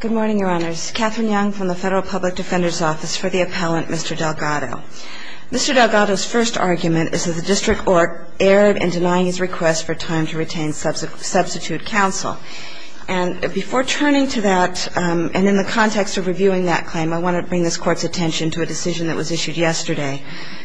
Good morning, Your Honors. Katherine Young from the Federal Public Defender's Office for the Appellant, Mr. Delgado. Mr. Delgado's first argument is that the District Court erred in denying his request for time to retain substitute counsel. And before turning to that and in the context of reviewing that claim, I want to bring this Court's attention to a decision that was issued yesterday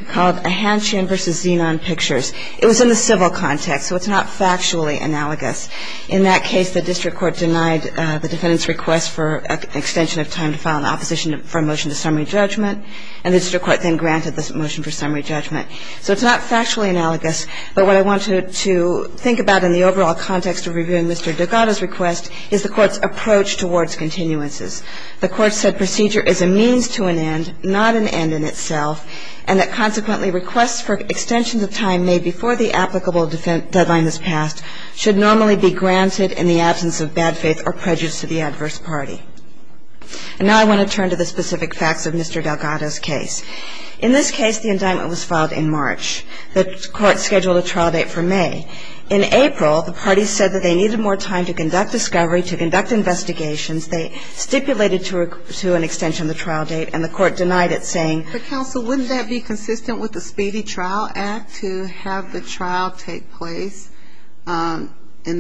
called Ahanchian v. Zenon Pictures. It was in the civil context, so it's not factually analogous. In that case, the District Court denied the defendant's request for an extension of time to file an opposition from motion to summary judgment. And the District Court then granted the motion for summary judgment. So it's not factually analogous, but what I wanted to think about in the overall context of reviewing Mr. Delgado's request is the Court's approach towards continuances. The Court said procedure is a means to an end, not an end in itself, and that consequently requests for extensions of time made before the applicable defense deadline is passed should normally be granted in the absence of bad faith or prejudice to the adverse party. And now I want to turn to the specific facts of Mr. Delgado's case. In this case, the indictment was filed in March. The Court scheduled a trial date for May. In April, the parties said that they needed more time to conduct discovery, to conduct investigations. They stipulated to an extension of the trial date, and the Court denied it, saying, But counsel, wouldn't that be consistent with the Speedy Trial Act to have the trial take place in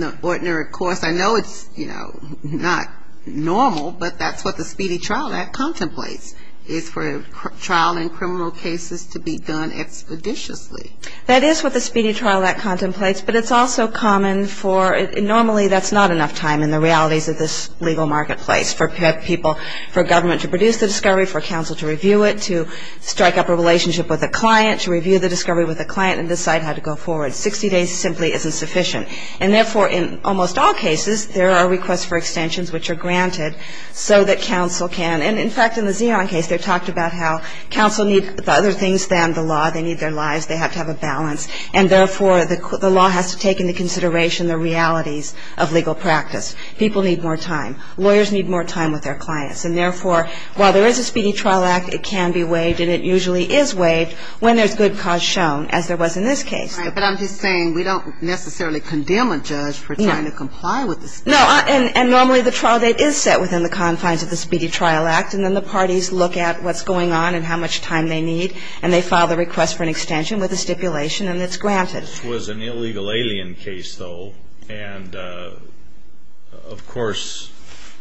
the ordinary course? I know it's, you know, not normal, but that's what the Speedy Trial Act contemplates, is for trial in criminal cases to be done expeditiously. That is what the Speedy Trial Act contemplates, but it's also common for normally that's not enough time in the realities of this legal marketplace for people, for government to produce the discovery, for counsel to review it, to strike up a relationship with a client, to review the discovery with a client, and decide how to go forward. Sixty days simply isn't sufficient. And therefore, in almost all cases, there are requests for extensions which are granted so that counsel can, and in fact, in the Zeon case, they talked about how counsel needs other things than the law. They need their lives. They have to have a balance. And therefore, the law has to take into consideration the realities of legal practice. People need more time. Lawyers need more time with their clients. And therefore, while there is a Speedy Trial Act, it can be waived and it usually is waived when there's good cause shown, as there was in this case. Right. But I'm just saying we don't necessarily condemn a judge for trying to comply with the Speedy Trial Act. No. And normally the trial date is set within the confines of the Speedy Trial Act, and then the parties look at what's going on and how much time they need, and they file the request for an extension with a stipulation, and it's granted. This was an illegal alien case, though, and, of course,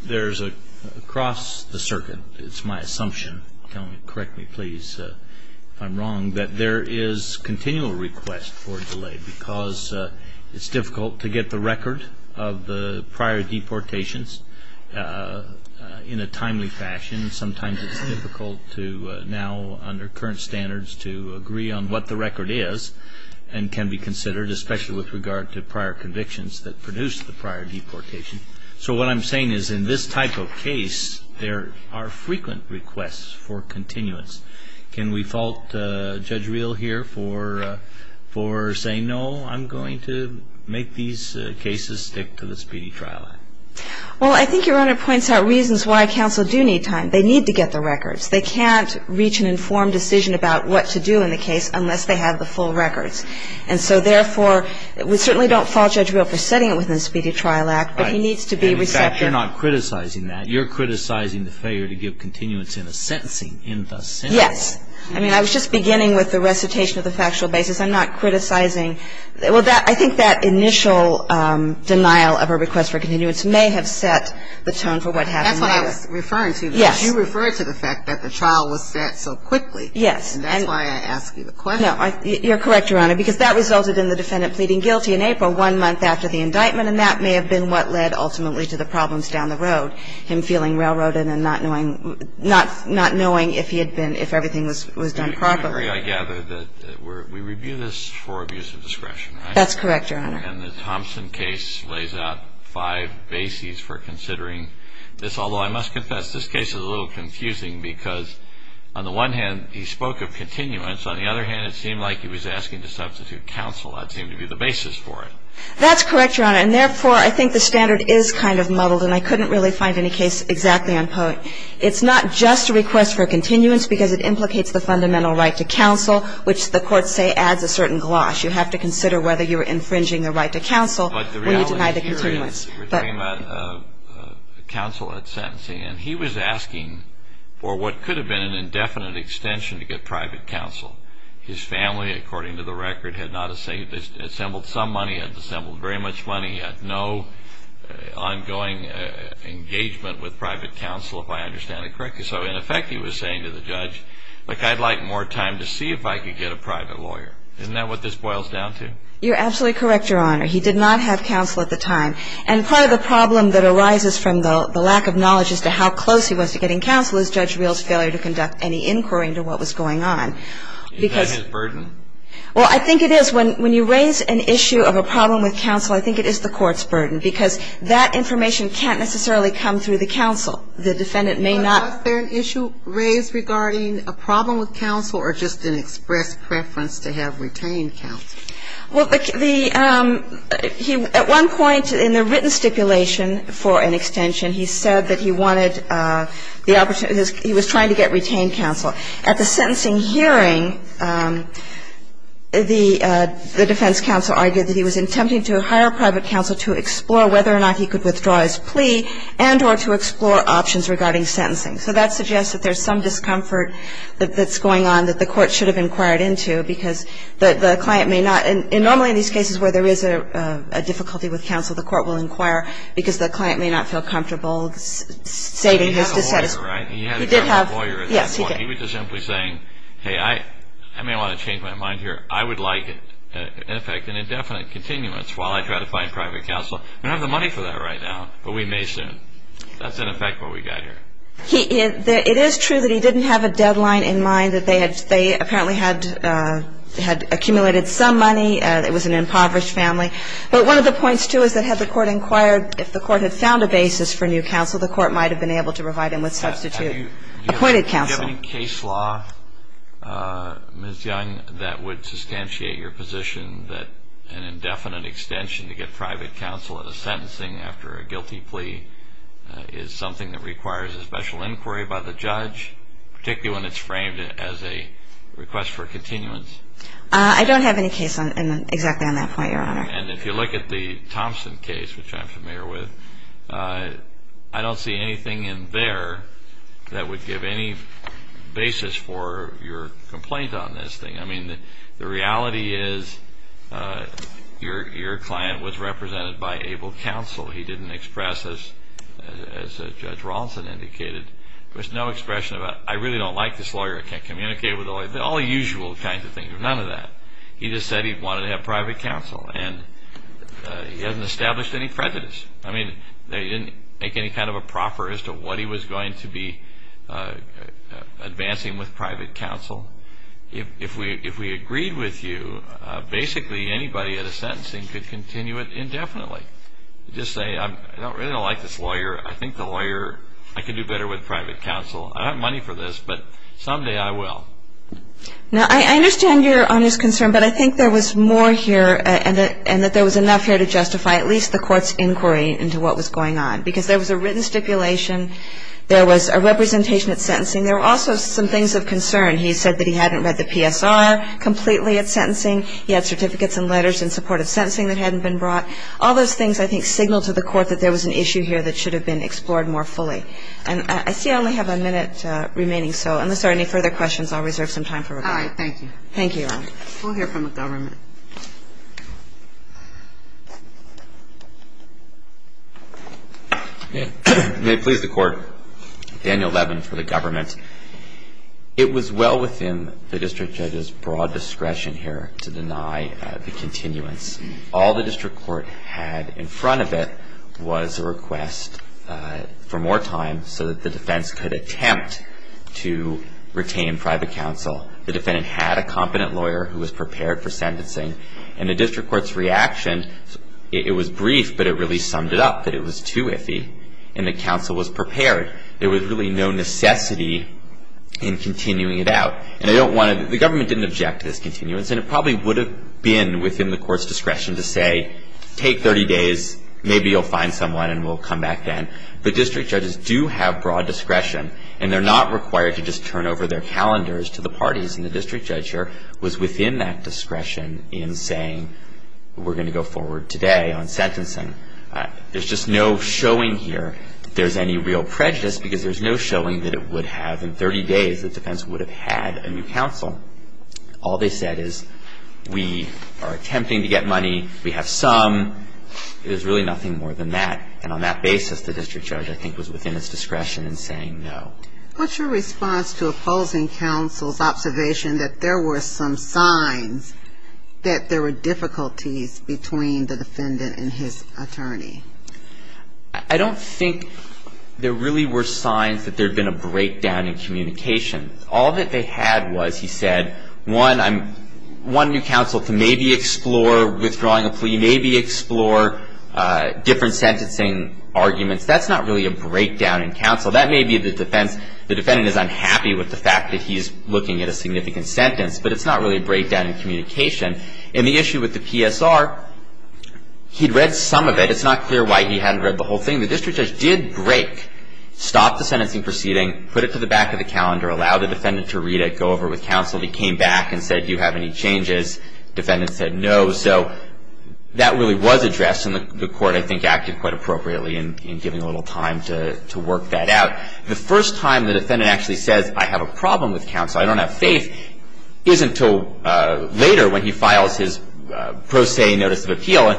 there's across the circuit, it's my assumption, correct me please if I'm wrong, that there is continual request for a delay because it's difficult to get the record of the prior deportations in a timely fashion. Sometimes it's difficult to now, under current standards, to agree on what the record is and can be considered, especially with regard to prior convictions that produced the prior deportation. So what I'm saying is in this type of case, there are frequent requests for continuance. Can we fault Judge Reel here for saying, no, I'm going to make these cases stick to the Speedy Trial Act? Well, I think Your Honor points out reasons why counsel do need time. They need to get the records. They can't reach an informed decision about what to do in the case unless they have the full records. And so, therefore, we certainly don't fault Judge Reel for setting it within the Speedy Trial Act, but he needs to be receptive. Right. And, in fact, you're not criticizing that. You're criticizing the failure to give continuance in a sentencing in the sentence. Yes. I mean, I was just beginning with the recitation of the factual basis. I'm not criticizing. Well, I think that initial denial of a request for continuance may have set the tone for what happened later. That's what I was referring to. Yes. But you referred to the fact that the trial was set so quickly. Yes. And that's why I asked you the question. No. You're correct, Your Honor, because that resulted in the defendant pleading guilty in April one month after the indictment, and that may have been what led ultimately to the problems down the road, him feeling railroaded and not knowing if he had been – if everything was done properly. I gather that we review this for abuse of discretion. That's correct, Your Honor. And the Thompson case lays out five bases for considering this. Although, I must confess, this case is a little confusing because, on the one hand, he spoke of continuance. On the other hand, it seemed like he was asking to substitute counsel. That seemed to be the basis for it. That's correct, Your Honor. And, therefore, I think the standard is kind of muddled, and I couldn't really find any case exactly on poet. It's not just a request for continuance because it implicates the fundamental right to counsel, which the courts say adds a certain gloss. You have to consider whether you're infringing a right to counsel when you deny the continuance. But the reality here is we're talking about counsel at sentencing, and he was asking for what could have been an indefinite extension to get private counsel. His family, according to the record, had not assembled some money. He had assembled very much money. He had no ongoing engagement with private counsel, if I understand it correctly. So, in effect, he was saying to the judge, like, I'd like more time to see if I could get a private lawyer. Isn't that what this boils down to? You're absolutely correct, Your Honor. He did not have counsel at the time. And part of the problem that arises from the lack of knowledge as to how close he was to getting counsel is Judge Reel's failure to conduct any inquiry into what was going on. Is that his burden? Well, I think it is. When you raise an issue of a problem with counsel, I think it is the court's burden, because that information can't necessarily come through the counsel. The defendant may not. But was there an issue raised regarding a problem with counsel or just an express preference to have retained counsel? Well, the – at one point in the written stipulation for an extension, he said that he wanted the – he was trying to get retained counsel. At the sentencing hearing, the defense counsel argued that he was attempting to hire private counsel to explore whether or not he could withdraw his plea and or to explore options regarding sentencing. So that suggests that there's some discomfort that's going on that the court should have inquired into, because the client may not – and normally in these cases where there is a difficulty with counsel, the court will inquire because the client may not feel comfortable stating his dissatisfaction. But he had a lawyer, right? He did have a lawyer at that point. Yes, he did. He was just simply saying, hey, I may want to change my mind here. I would like, in effect, an indefinite continuance while I try to find private counsel. We don't have the money for that right now, but we may soon. That's, in effect, where we got here. He – it is true that he didn't have a deadline in mind, that they had – they apparently had accumulated some money. It was an impoverished family. But one of the points, too, is that had the court inquired, if the court had found a basis for new counsel, the court might have been able to provide him with substitute appointed counsel. Do you have any case law, Ms. Young, that would substantiate your position that an indefinite extension to get private counsel at a sentencing after a guilty plea is something that requires a special inquiry by the judge, particularly when it's framed as a request for continuance? I don't have any case on – exactly on that point, Your Honor. And if you look at the Thompson case, which I'm familiar with, I don't see anything in there that would give any basis for your complaint on this thing. I mean, the reality is your client was represented by able counsel. He didn't express as Judge Rawlinson indicated. There was no expression about, I really don't like this lawyer. I can't communicate with the lawyer. All the usual kinds of things, but none of that. He just said he wanted to have private counsel. And he hasn't established any prejudice. I mean, they didn't make any kind of a proffer as to what he was going to be advancing with private counsel. If we agreed with you, basically anybody at a sentencing could continue it indefinitely. Just say, I really don't like this lawyer. I think the lawyer – I can do better with private counsel. I don't have money for this, but someday I will. Now, I understand Your Honor's concern, but I think there was more here and that there was enough here to justify at least the Court's inquiry into what was going on, because there was a written stipulation. There was a representation at sentencing. There were also some things of concern. He said that he hadn't read the PSR completely at sentencing. He had certificates and letters in support of sentencing that hadn't been brought. All those things, I think, signal to the Court that there was an issue here that should have been explored more fully. I see I only have a minute remaining, so unless there are any further questions, I'll reserve some time for rebuttal. All right, thank you. Thank you, Your Honor. We'll hear from the government. May it please the Court. Daniel Levin for the government. It was well within the district judge's broad discretion here to deny the continuance. All the district court had in front of it was a request for more time so that the defense could attempt to retain private counsel. The defendant had a competent lawyer who was prepared for sentencing, and the district court's reaction, it was brief, but it really summed it up that it was too iffy and that counsel was prepared. There was really no necessity in continuing it out. The government didn't object to this continuance, and it probably would have been within the court's discretion to say, take 30 days, maybe you'll find someone, and we'll come back then. But district judges do have broad discretion, and they're not required to just turn over their calendars to the parties. And the district judge here was within that discretion in saying, we're going to go forward today on sentencing. There's just no showing here that there's any real prejudice because there's no showing that it would have, in 30 days, the defense would have had a new counsel. All they said is, we are attempting to get money, we have some. There's really nothing more than that. And on that basis, the district judge, I think, was within its discretion in saying no. What's your response to opposing counsel's observation that there were some signs that there were difficulties between the defendant and his attorney? I don't think there really were signs that there had been a breakdown in communication. All that they had was, he said, one new counsel to maybe explore withdrawing a plea, maybe explore different sentencing arguments. That's not really a breakdown in counsel. That may be the defense. The defendant is unhappy with the fact that he's looking at a significant sentence, but it's not really a breakdown in communication. In the issue with the PSR, he'd read some of it. It's not clear why he hadn't read the whole thing. The district judge did break, stop the sentencing proceeding, put it to the back of the calendar, allowed the defendant to read it, go over it with counsel. He came back and said, do you have any changes? Defendant said no. So that really was addressed, and the court, I think, acted quite appropriately in giving a little time to work that out. The first time the defendant actually says, I have a problem with counsel, I don't have faith, is until later when he files his pro se notice of appeal,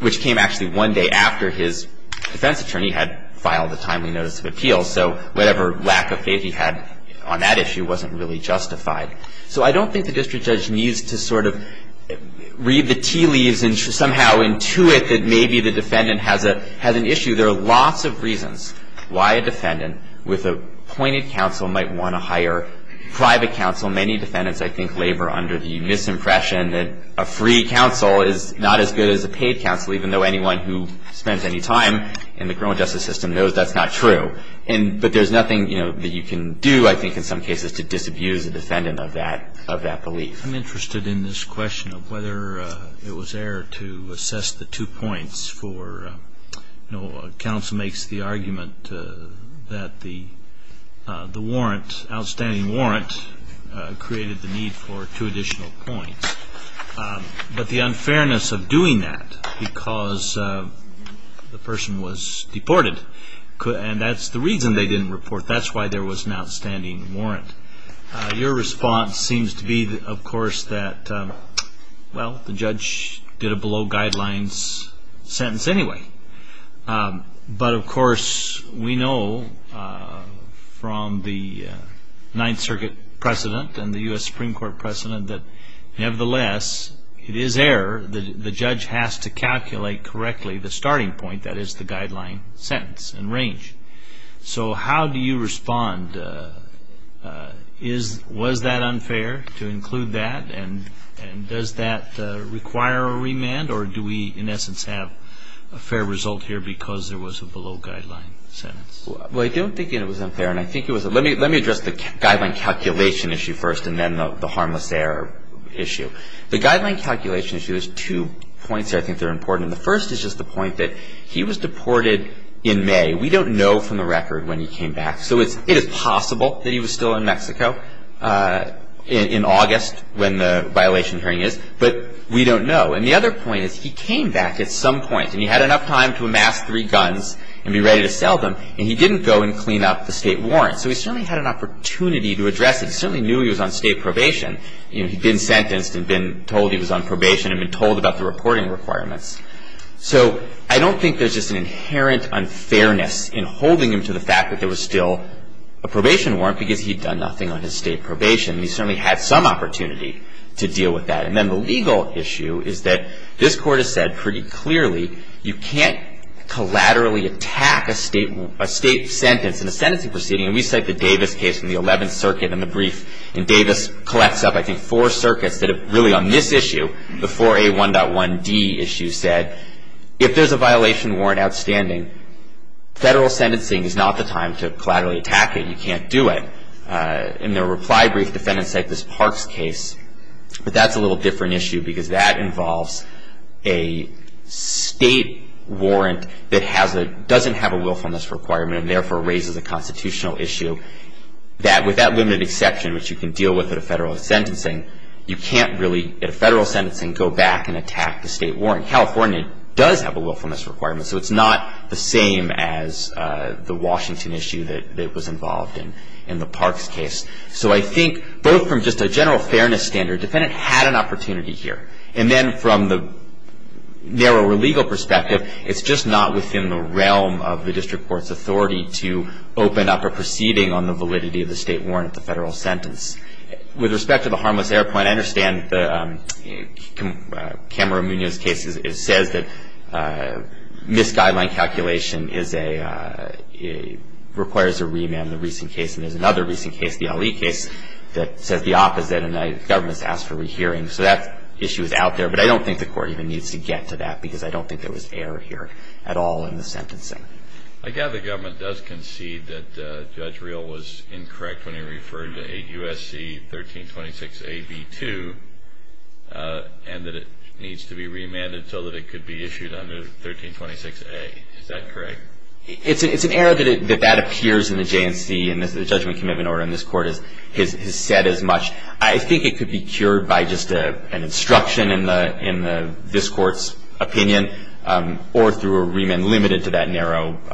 which came actually one day after his defense attorney had filed a timely notice of appeal. So whatever lack of faith he had on that issue wasn't really justified. So I don't think the district judge needs to sort of read the tea leaves and somehow intuit that maybe the defendant has an issue. There are lots of reasons why a defendant with appointed counsel might want to hire private counsel. Many defendants, I think, labor under the misimpression that a free counsel is not as good as a paid counsel, even though anyone who spends any time in the criminal justice system knows that's not true. But there's nothing that you can do, I think, in some cases, to disabuse a defendant of that belief. I'm interested in this question of whether it was error to assess the two points for counsel makes the argument that the warrant, outstanding warrant, created the need for two additional points. But the unfairness of doing that because the person was deported, and that's the reason they didn't report. That's why there was an outstanding warrant. Your response seems to be, of course, that, well, the judge did a below guidelines sentence anyway. But, of course, we know from the Ninth Circuit precedent and the U.S. Supreme Court precedent that, nevertheless, it is error. The judge has to calculate correctly the starting point, that is the guideline sentence and range. So how do you respond? Was that unfair to include that? And does that require a remand? Or do we, in essence, have a fair result here because there was a below guideline sentence? Well, I don't think it was unfair. Let me address the guideline calculation issue first and then the harmless error issue. The guideline calculation issue has two points I think that are important. The first is just the point that he was deported in May. We don't know from the record when he came back. So it is possible that he was still in Mexico in August when the violation hearing is, but we don't know. And the other point is he came back at some point, and he had enough time to amass three guns and be ready to sell them, and he didn't go and clean up the State warrant. So he certainly had an opportunity to address it. He certainly knew he was on State probation. You know, he'd been sentenced and been told he was on probation and been told about the reporting requirements. So I don't think there's just an inherent unfairness in holding him to the fact that there was still a probation warrant because he'd done nothing on his State probation. He certainly had some opportunity to deal with that. And then the legal issue is that this Court has said pretty clearly you can't collaterally attack a State sentence in a sentencing proceeding. And we cite the Davis case from the 11th Circuit in the brief. And Davis collects up, I think, four circuits that have really on this issue, the 4A1.1D issue said if there's a violation warrant outstanding, Federal sentencing is not the time to collaterally attack it. You can't do it. In the reply brief, defendants cite this Parks case, but that's a little different issue because that involves a State warrant that doesn't have a willfulness requirement and therefore raises a constitutional issue that, with that limited exception, which you can deal with at a Federal sentencing, you can't really at a Federal sentencing go back and attack the State warrant. California does have a willfulness requirement, so it's not the same as the Washington issue that was involved in the Parks case. So I think both from just a general fairness standard, defendant had an opportunity here. And then from the narrower legal perspective, it's just not within the realm of the district court's authority to open up a proceeding on the validity of the State warrant at the Federal sentence. With respect to the harmless error point, I understand the Kamara-Munoz case says that misguideline calculation requires a remand, the recent case, and there's another recent case, the Ali case, that says the opposite and the government's asked for a rehearing. So that issue is out there, but I don't think the court even needs to get to that because I don't think there was error here at all in the sentencing. I gather the government does concede that Judge Real was incorrect when he referred to 8 U.S.C. 1326A.B.2 and that it needs to be remanded so that it could be issued under 1326A. Is that correct? It's an error that that appears in the J&C and the judgment commitment order in this court has said as much. I think it could be cured by just an instruction in this court's opinion or through a remand limited to that narrow issue.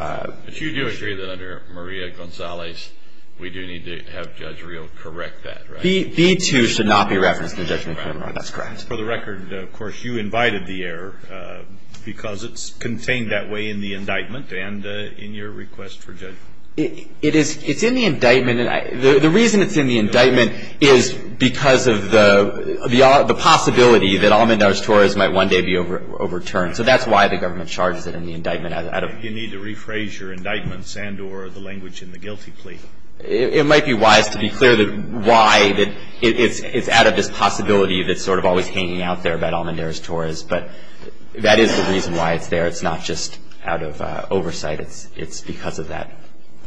But you do agree that under Maria Gonzalez, we do need to have Judge Real correct that, right? B.2 should not be referenced in the judgment commitment order. That's correct. For the record, of course, you invited the error because it's contained that way in the indictment and in your request for judgment. It's in the indictment. The reason it's in the indictment is because of the possibility that Almendares-Torres might one day be overturned. So that's why the government charges it in the indictment. You need to rephrase your indictments and or the language in the guilty plea. It might be wise to be clear why it's out of this possibility that's sort of always hanging out there about Almendares-Torres, but that is the reason why it's there. It's not just out of oversight. It's because of that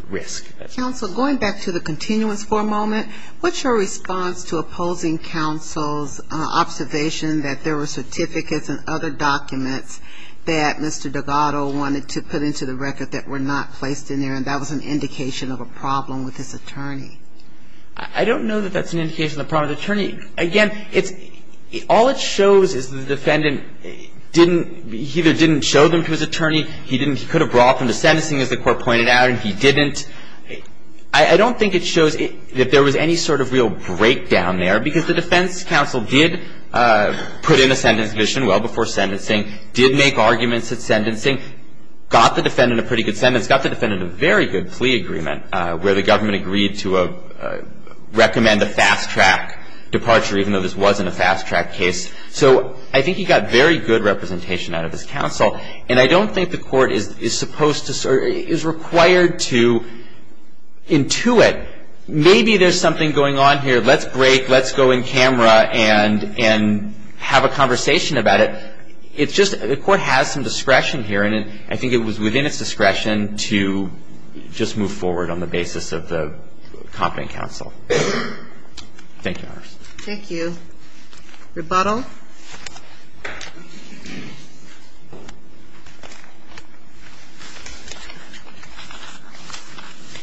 risk. Counsel, going back to the continuance for a moment, what's your response to opposing counsel's observation that there were certificates and other documents that Mr. Delgado wanted to put into the record that were not placed in there and that was an indication of a problem with his attorney? I don't know that that's an indication of a problem with the attorney. Again, it's – all it shows is the defendant didn't – he either didn't show them to his attorney, he didn't – he could have brought them to sentencing, as the court pointed out, and he didn't. I don't think it shows that there was any sort of real breakdown there because the defense counsel did put in a sentence submission well before sentencing, did make arguments at sentencing, got the defendant a pretty good sentence, got the defendant a very good plea agreement where the government agreed to recommend a fast-track departure even though this wasn't a fast-track case. So I think he got very good representation out of his counsel, and I don't think the court is supposed to – is required to intuit, maybe there's something going on here. Let's break. Let's go in camera and have a conversation about it. It's just the court has some discretion here, and I think it was within its discretion to just move forward on the basis of the competent counsel. Thank you, Your Honors. Thank you. Rebuttal?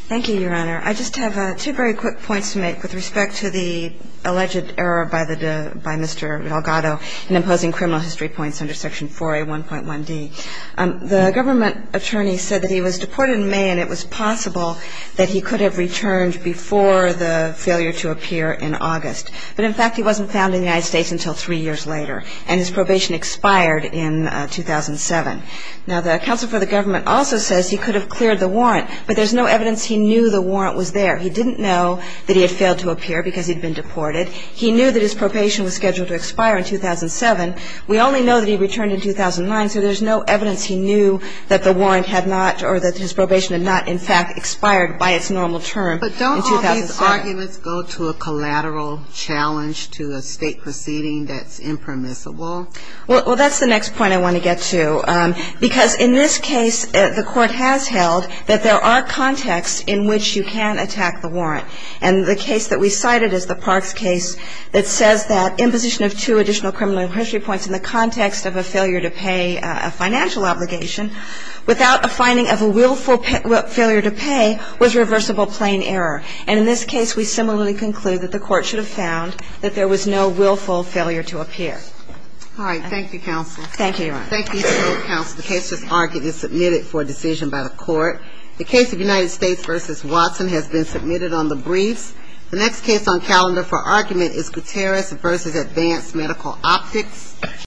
Thank you, Your Honor. I just have two very quick points to make with respect to the alleged error by Mr. Delgado in imposing criminal history points under Section 4A1.1d. The government attorney said that he was deported in May, and it was possible that he could have returned before the failure to appear in August. But, in fact, he wasn't found in the United States until three years later. And his probation expired in 2007. Now, the counsel for the government also says he could have cleared the warrant, but there's no evidence he knew the warrant was there. He didn't know that he had failed to appear because he'd been deported. He knew that his probation was scheduled to expire in 2007. We only know that he returned in 2009, so there's no evidence he knew that the warrant had not or that his probation had not, in fact, expired by its normal term in 2007. Do the arguments go to a collateral challenge to a State proceeding that's impermissible? Well, that's the next point I want to get to, because in this case the Court has held that there are contexts in which you can attack the warrant. And the case that we cited is the Parks case that says that imposition of two additional criminal history points in the context of a failure to pay a financial obligation without a finding of a willful failure to pay was reversible plain error. And in this case we similarly conclude that the Court should have found that there was no willful failure to appear. All right. Thank you, counsel. Thank you, Your Honor. Thank you, counsel. The case just argued is submitted for decision by the Court. The case of United States v. Watson has been submitted on the briefs. The next case on calendar for argument is Gutierrez v. Advanced Medical Optics.